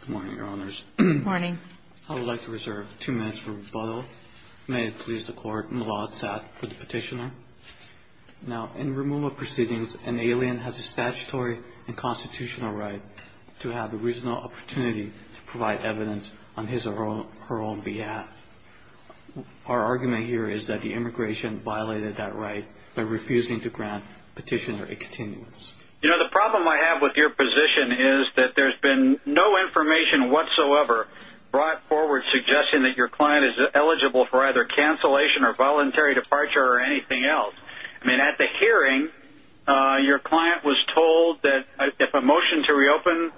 Good morning, your honors. Good morning. I would like to reserve two minutes for rebuttal. May it please the court. Malad Sath for the petitioner. Now, in removal proceedings, an alien has a statutory and constitutional right to have the reasonable opportunity to provide evidence on his or her own behalf. Our argument here is that the immigration violated that right by refusing to grant petitioner a continuance. You know, the problem I have with your position is that there's been no information whatsoever brought forward suggesting that your client is eligible for either cancellation or voluntary departure or anything else. I mean, at the hearing, your client was told that if a motion to reopen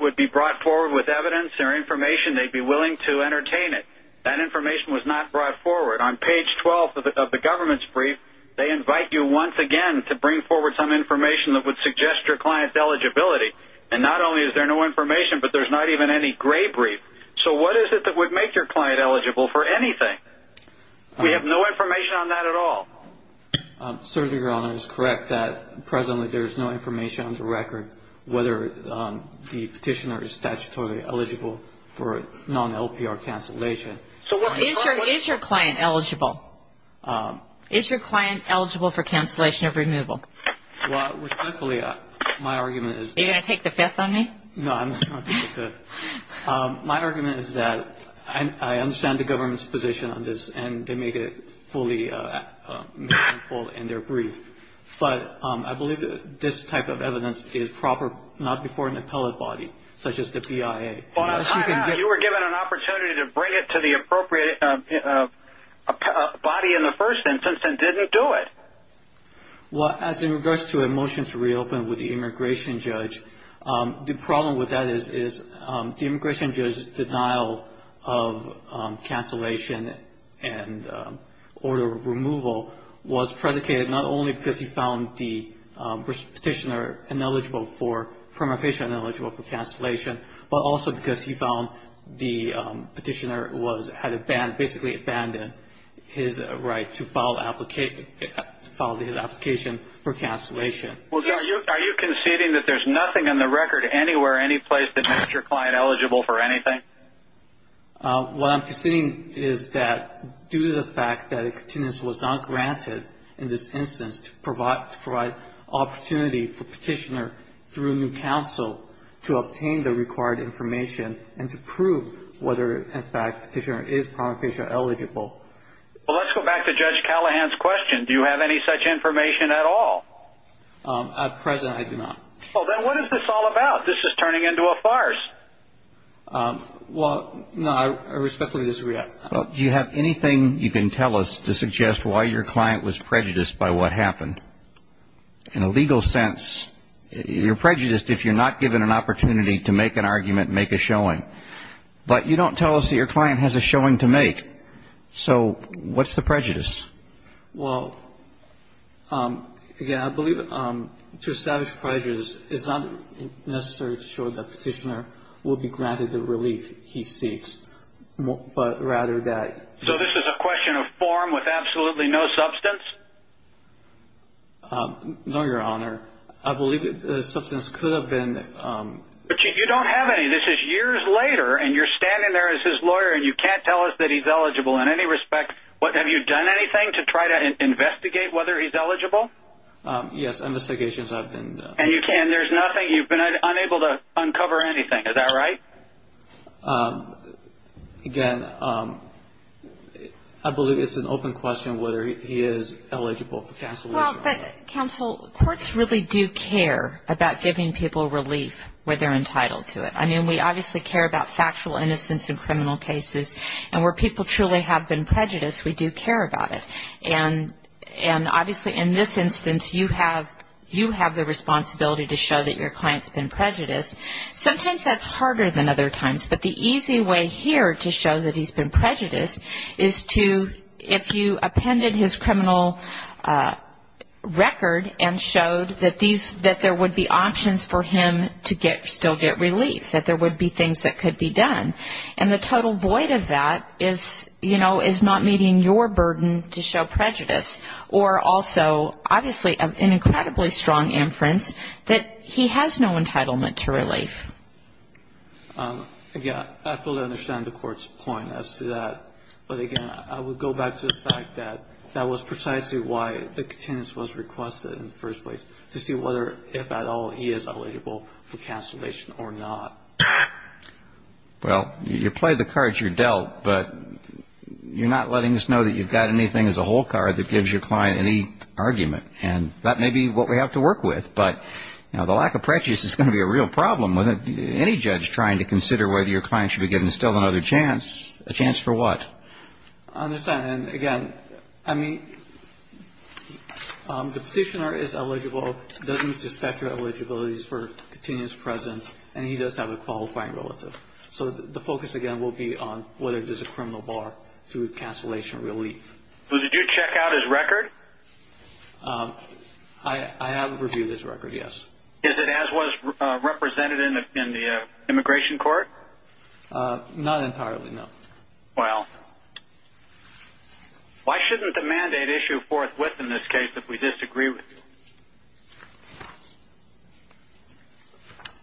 would be brought forward with evidence or information, they'd be willing to entertain it. That information was not brought forward. On page 12 of the government's brief, they invite you once again to bring forward some information that would suggest your client's eligibility. And not only is there no information, but there's not even any gray brief. So what is it that would make your client eligible for anything? We have no information on that at all. Certainly, your honor, it is correct that presently there is no information on the record whether the petitioner is statutorily eligible for non-LPR cancellation. Is your client eligible? Is your client eligible for cancellation of removal? Well, respectfully, my argument is that I understand the government's position on this and they made it fully meaningful in their brief. But I believe this type of evidence is proper not before an appellate body, such as the BIA. You were given an opportunity to bring it to the appropriate body in the first instance and didn't do it. Well, as in regards to a motion to reopen with the immigration judge, the problem with that is the immigration judge's denial of cancellation and order of removal was predicated not only because he found the petitioner ineligible for, prima facie ineligible for because he found the petitioner had basically abandoned his right to file his application for cancellation. Are you conceding that there's nothing in the record anywhere, any place that makes your client eligible for anything? What I'm conceding is that due to the fact that a contingency was not granted in this instance to provide opportunity for petitioner through new counsel to obtain the required information and to prove whether, in fact, petitioner is prima facie eligible. Well, let's go back to Judge Callahan's question. Do you have any such information at all? At present, I do not. Well, then what is this all about? This is turning into a farce. Well, no, I respectfully disagree. Do you have anything you can tell us to suggest why your client was prejudiced by what happened? In a legal sense, you're prejudiced if you're not given an opportunity to make an argument, make a showing. But you don't tell us that your client has a showing to make. So what's the prejudice? Well, again, I believe to establish prejudice is not necessarily to show that petitioner will be granted the relief he seeks. But rather that... So this is a question of form with absolutely no substance? No, Your Honor. I believe the substance could have been... But you don't have any. This is years later and you're standing there as his lawyer and you can't tell us that he's eligible in any respect. Have you done anything to try to investigate whether he's eligible? Yes, investigations have been... And you can. There's nothing. You've been unable to uncover anything. Is that right? Again, I believe it's an open question whether he is eligible for counsel... Well, but counsel, courts really do care about giving people relief where they're entitled to it. I mean, we obviously care about factual innocence in criminal cases. And where people truly have been prejudiced, we do care about it. And obviously in this instance, you have the responsibility to show that your client's been prejudiced. Sometimes that's harder than other times. But the easy way here to show that he's been prejudiced is to... If you appended his criminal record and showed that there would be options for him to still get relief, that there would be things that could be done. And the total void of that is not meeting your burden to show prejudice. Or also, obviously, an incredibly strong inference that he has no entitlement to relief. Again, I fully understand the court's point as to that. But again, I would go back to the fact that that was precisely why the contingency was requested in the first place, to see whether, if at all, he is eligible for cancellation or not. Well, you play the cards you're dealt. But you're not letting us know that you've got anything as a whole card that gives your client any argument. And that may be what we have to work with. But, you know, the lack of prejudice is going to be a real problem with any judge trying to consider whether your client should be given still another chance. A chance for what? I understand. And, again, I mean, the petitioner is eligible. It doesn't affect your eligibility for continuous presence. And he does have a qualifying relative. So the focus, again, will be on whether there's a criminal bar to cancellation or relief. So did you check out his record? I have reviewed his record, yes. Is it as was represented in the immigration court? Not entirely, no. Well, why shouldn't the mandate issue forthwith in this case if we disagree with you?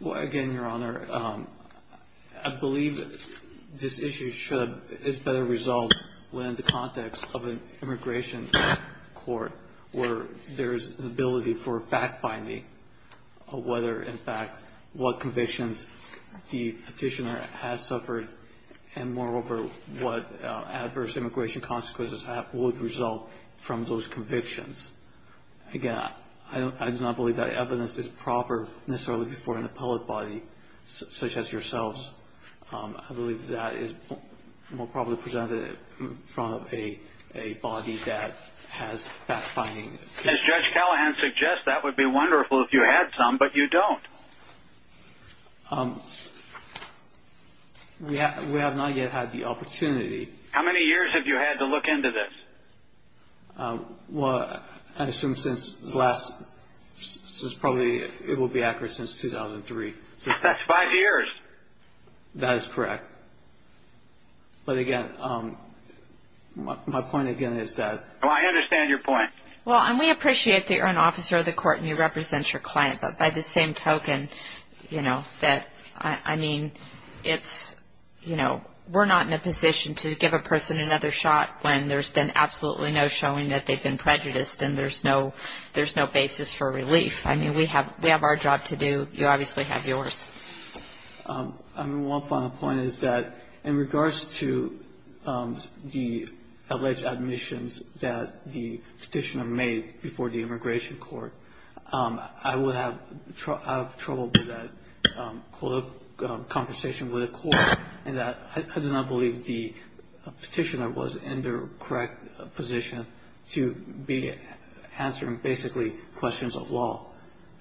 Well, again, Your Honor, I believe this issue is better resolved within the context of an immigration court where there is an ability for fact-finding of whether, in fact, what convictions the petitioner has suffered and, moreover, what adverse immigration consequences would result from those convictions. Again, I do not believe that evidence is proper necessarily before an appellate body such as yourselves. I believe that is more probably presented in front of a body that has fact-finding. As Judge Callahan suggests, that would be wonderful if you had some, but you don't. We have not yet had the opportunity. How many years have you had to look into this? Well, I assume since the last, since probably, it will be accurate, since 2003. That's five years. That is correct. But, again, my point, again, is that... Oh, I understand your point. Well, and we appreciate that you're an officer of the court and you represent your client, but by the same token, you know, that, I mean, it's, you know, we're not in a position to give a person another shot when there's been absolutely no showing that they've been prejudiced and there's no basis for relief. I mean, we have our job to do. You obviously have yours. I mean, one final point is that in regards to the alleged admissions that the petitioner made before the immigration court, I would have trouble with that conversation with the court in that I do not believe the petitioner was in the correct position to be answering basically questions of law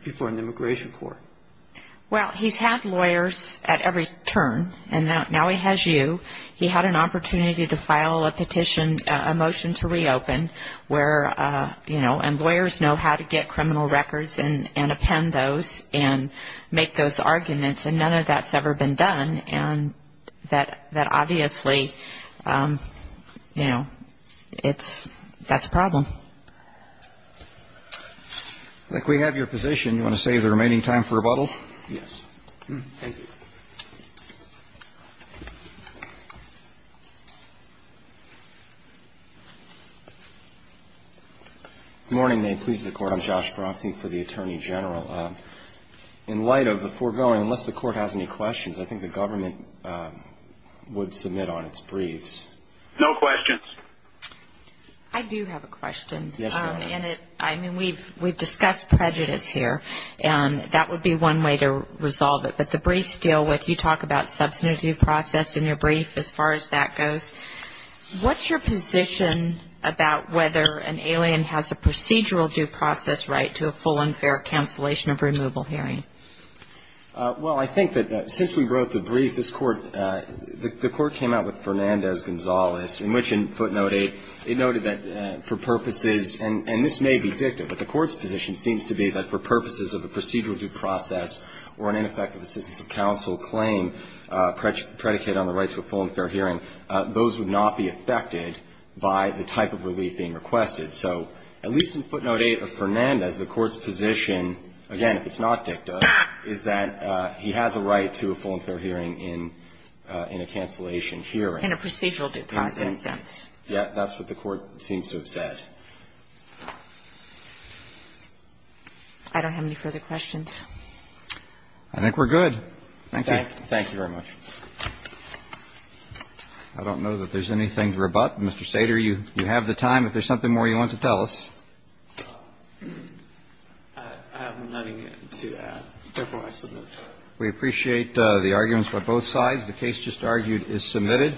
before an immigration court. Well, he's had lawyers at every turn, and now he has you. He had an opportunity to file a petition, a motion to reopen, where, you know, and lawyers know how to get criminal records and append those and make those arguments, and none of that's ever been done, and that obviously, you know, that's a problem. I think we have your position. Do you want to save the remaining time for rebuttal? Yes. Thank you. Good morning. May it please the Court. I'm Josh Bronson for the Attorney General. In light of the foregoing, unless the Court has any questions, I think the government would submit on its briefs. No questions. I do have a question. Yes, Your Honor. I mean, we've discussed prejudice here, and that would be one way to resolve it, but the briefs deal with, you talk about substantive due process in your brief as far as that goes. What's your position about whether an alien has a procedural due process right to a full and fair cancellation of removal hearing? Well, I think that since we wrote the brief, this Court, the Court came out with Fernandez-Gonzalez, in which in footnote 8, it noted that for purposes, and this may be dictative, but the Court's position seems to be that for purposes of a procedural due process or an ineffective assistance of counsel claim predicated on the right to a full and fair hearing, those would not be affected by the type of relief being requested. So at least in footnote 8 of Fernandez, the Court's position, again, if it's not dictative, is that he has a right to a full and fair hearing in a cancellation hearing. In a procedural due process sense. That's what the Court seems to have said. I don't have any further questions. I think we're good. Thank you. Thank you very much. I don't know that there's anything to rebut. Mr. Sater, you have the time. If there's something more you want to tell us. I have nothing to add. Therefore, I submit. We appreciate the arguments by both sides. The case just argued is submitted.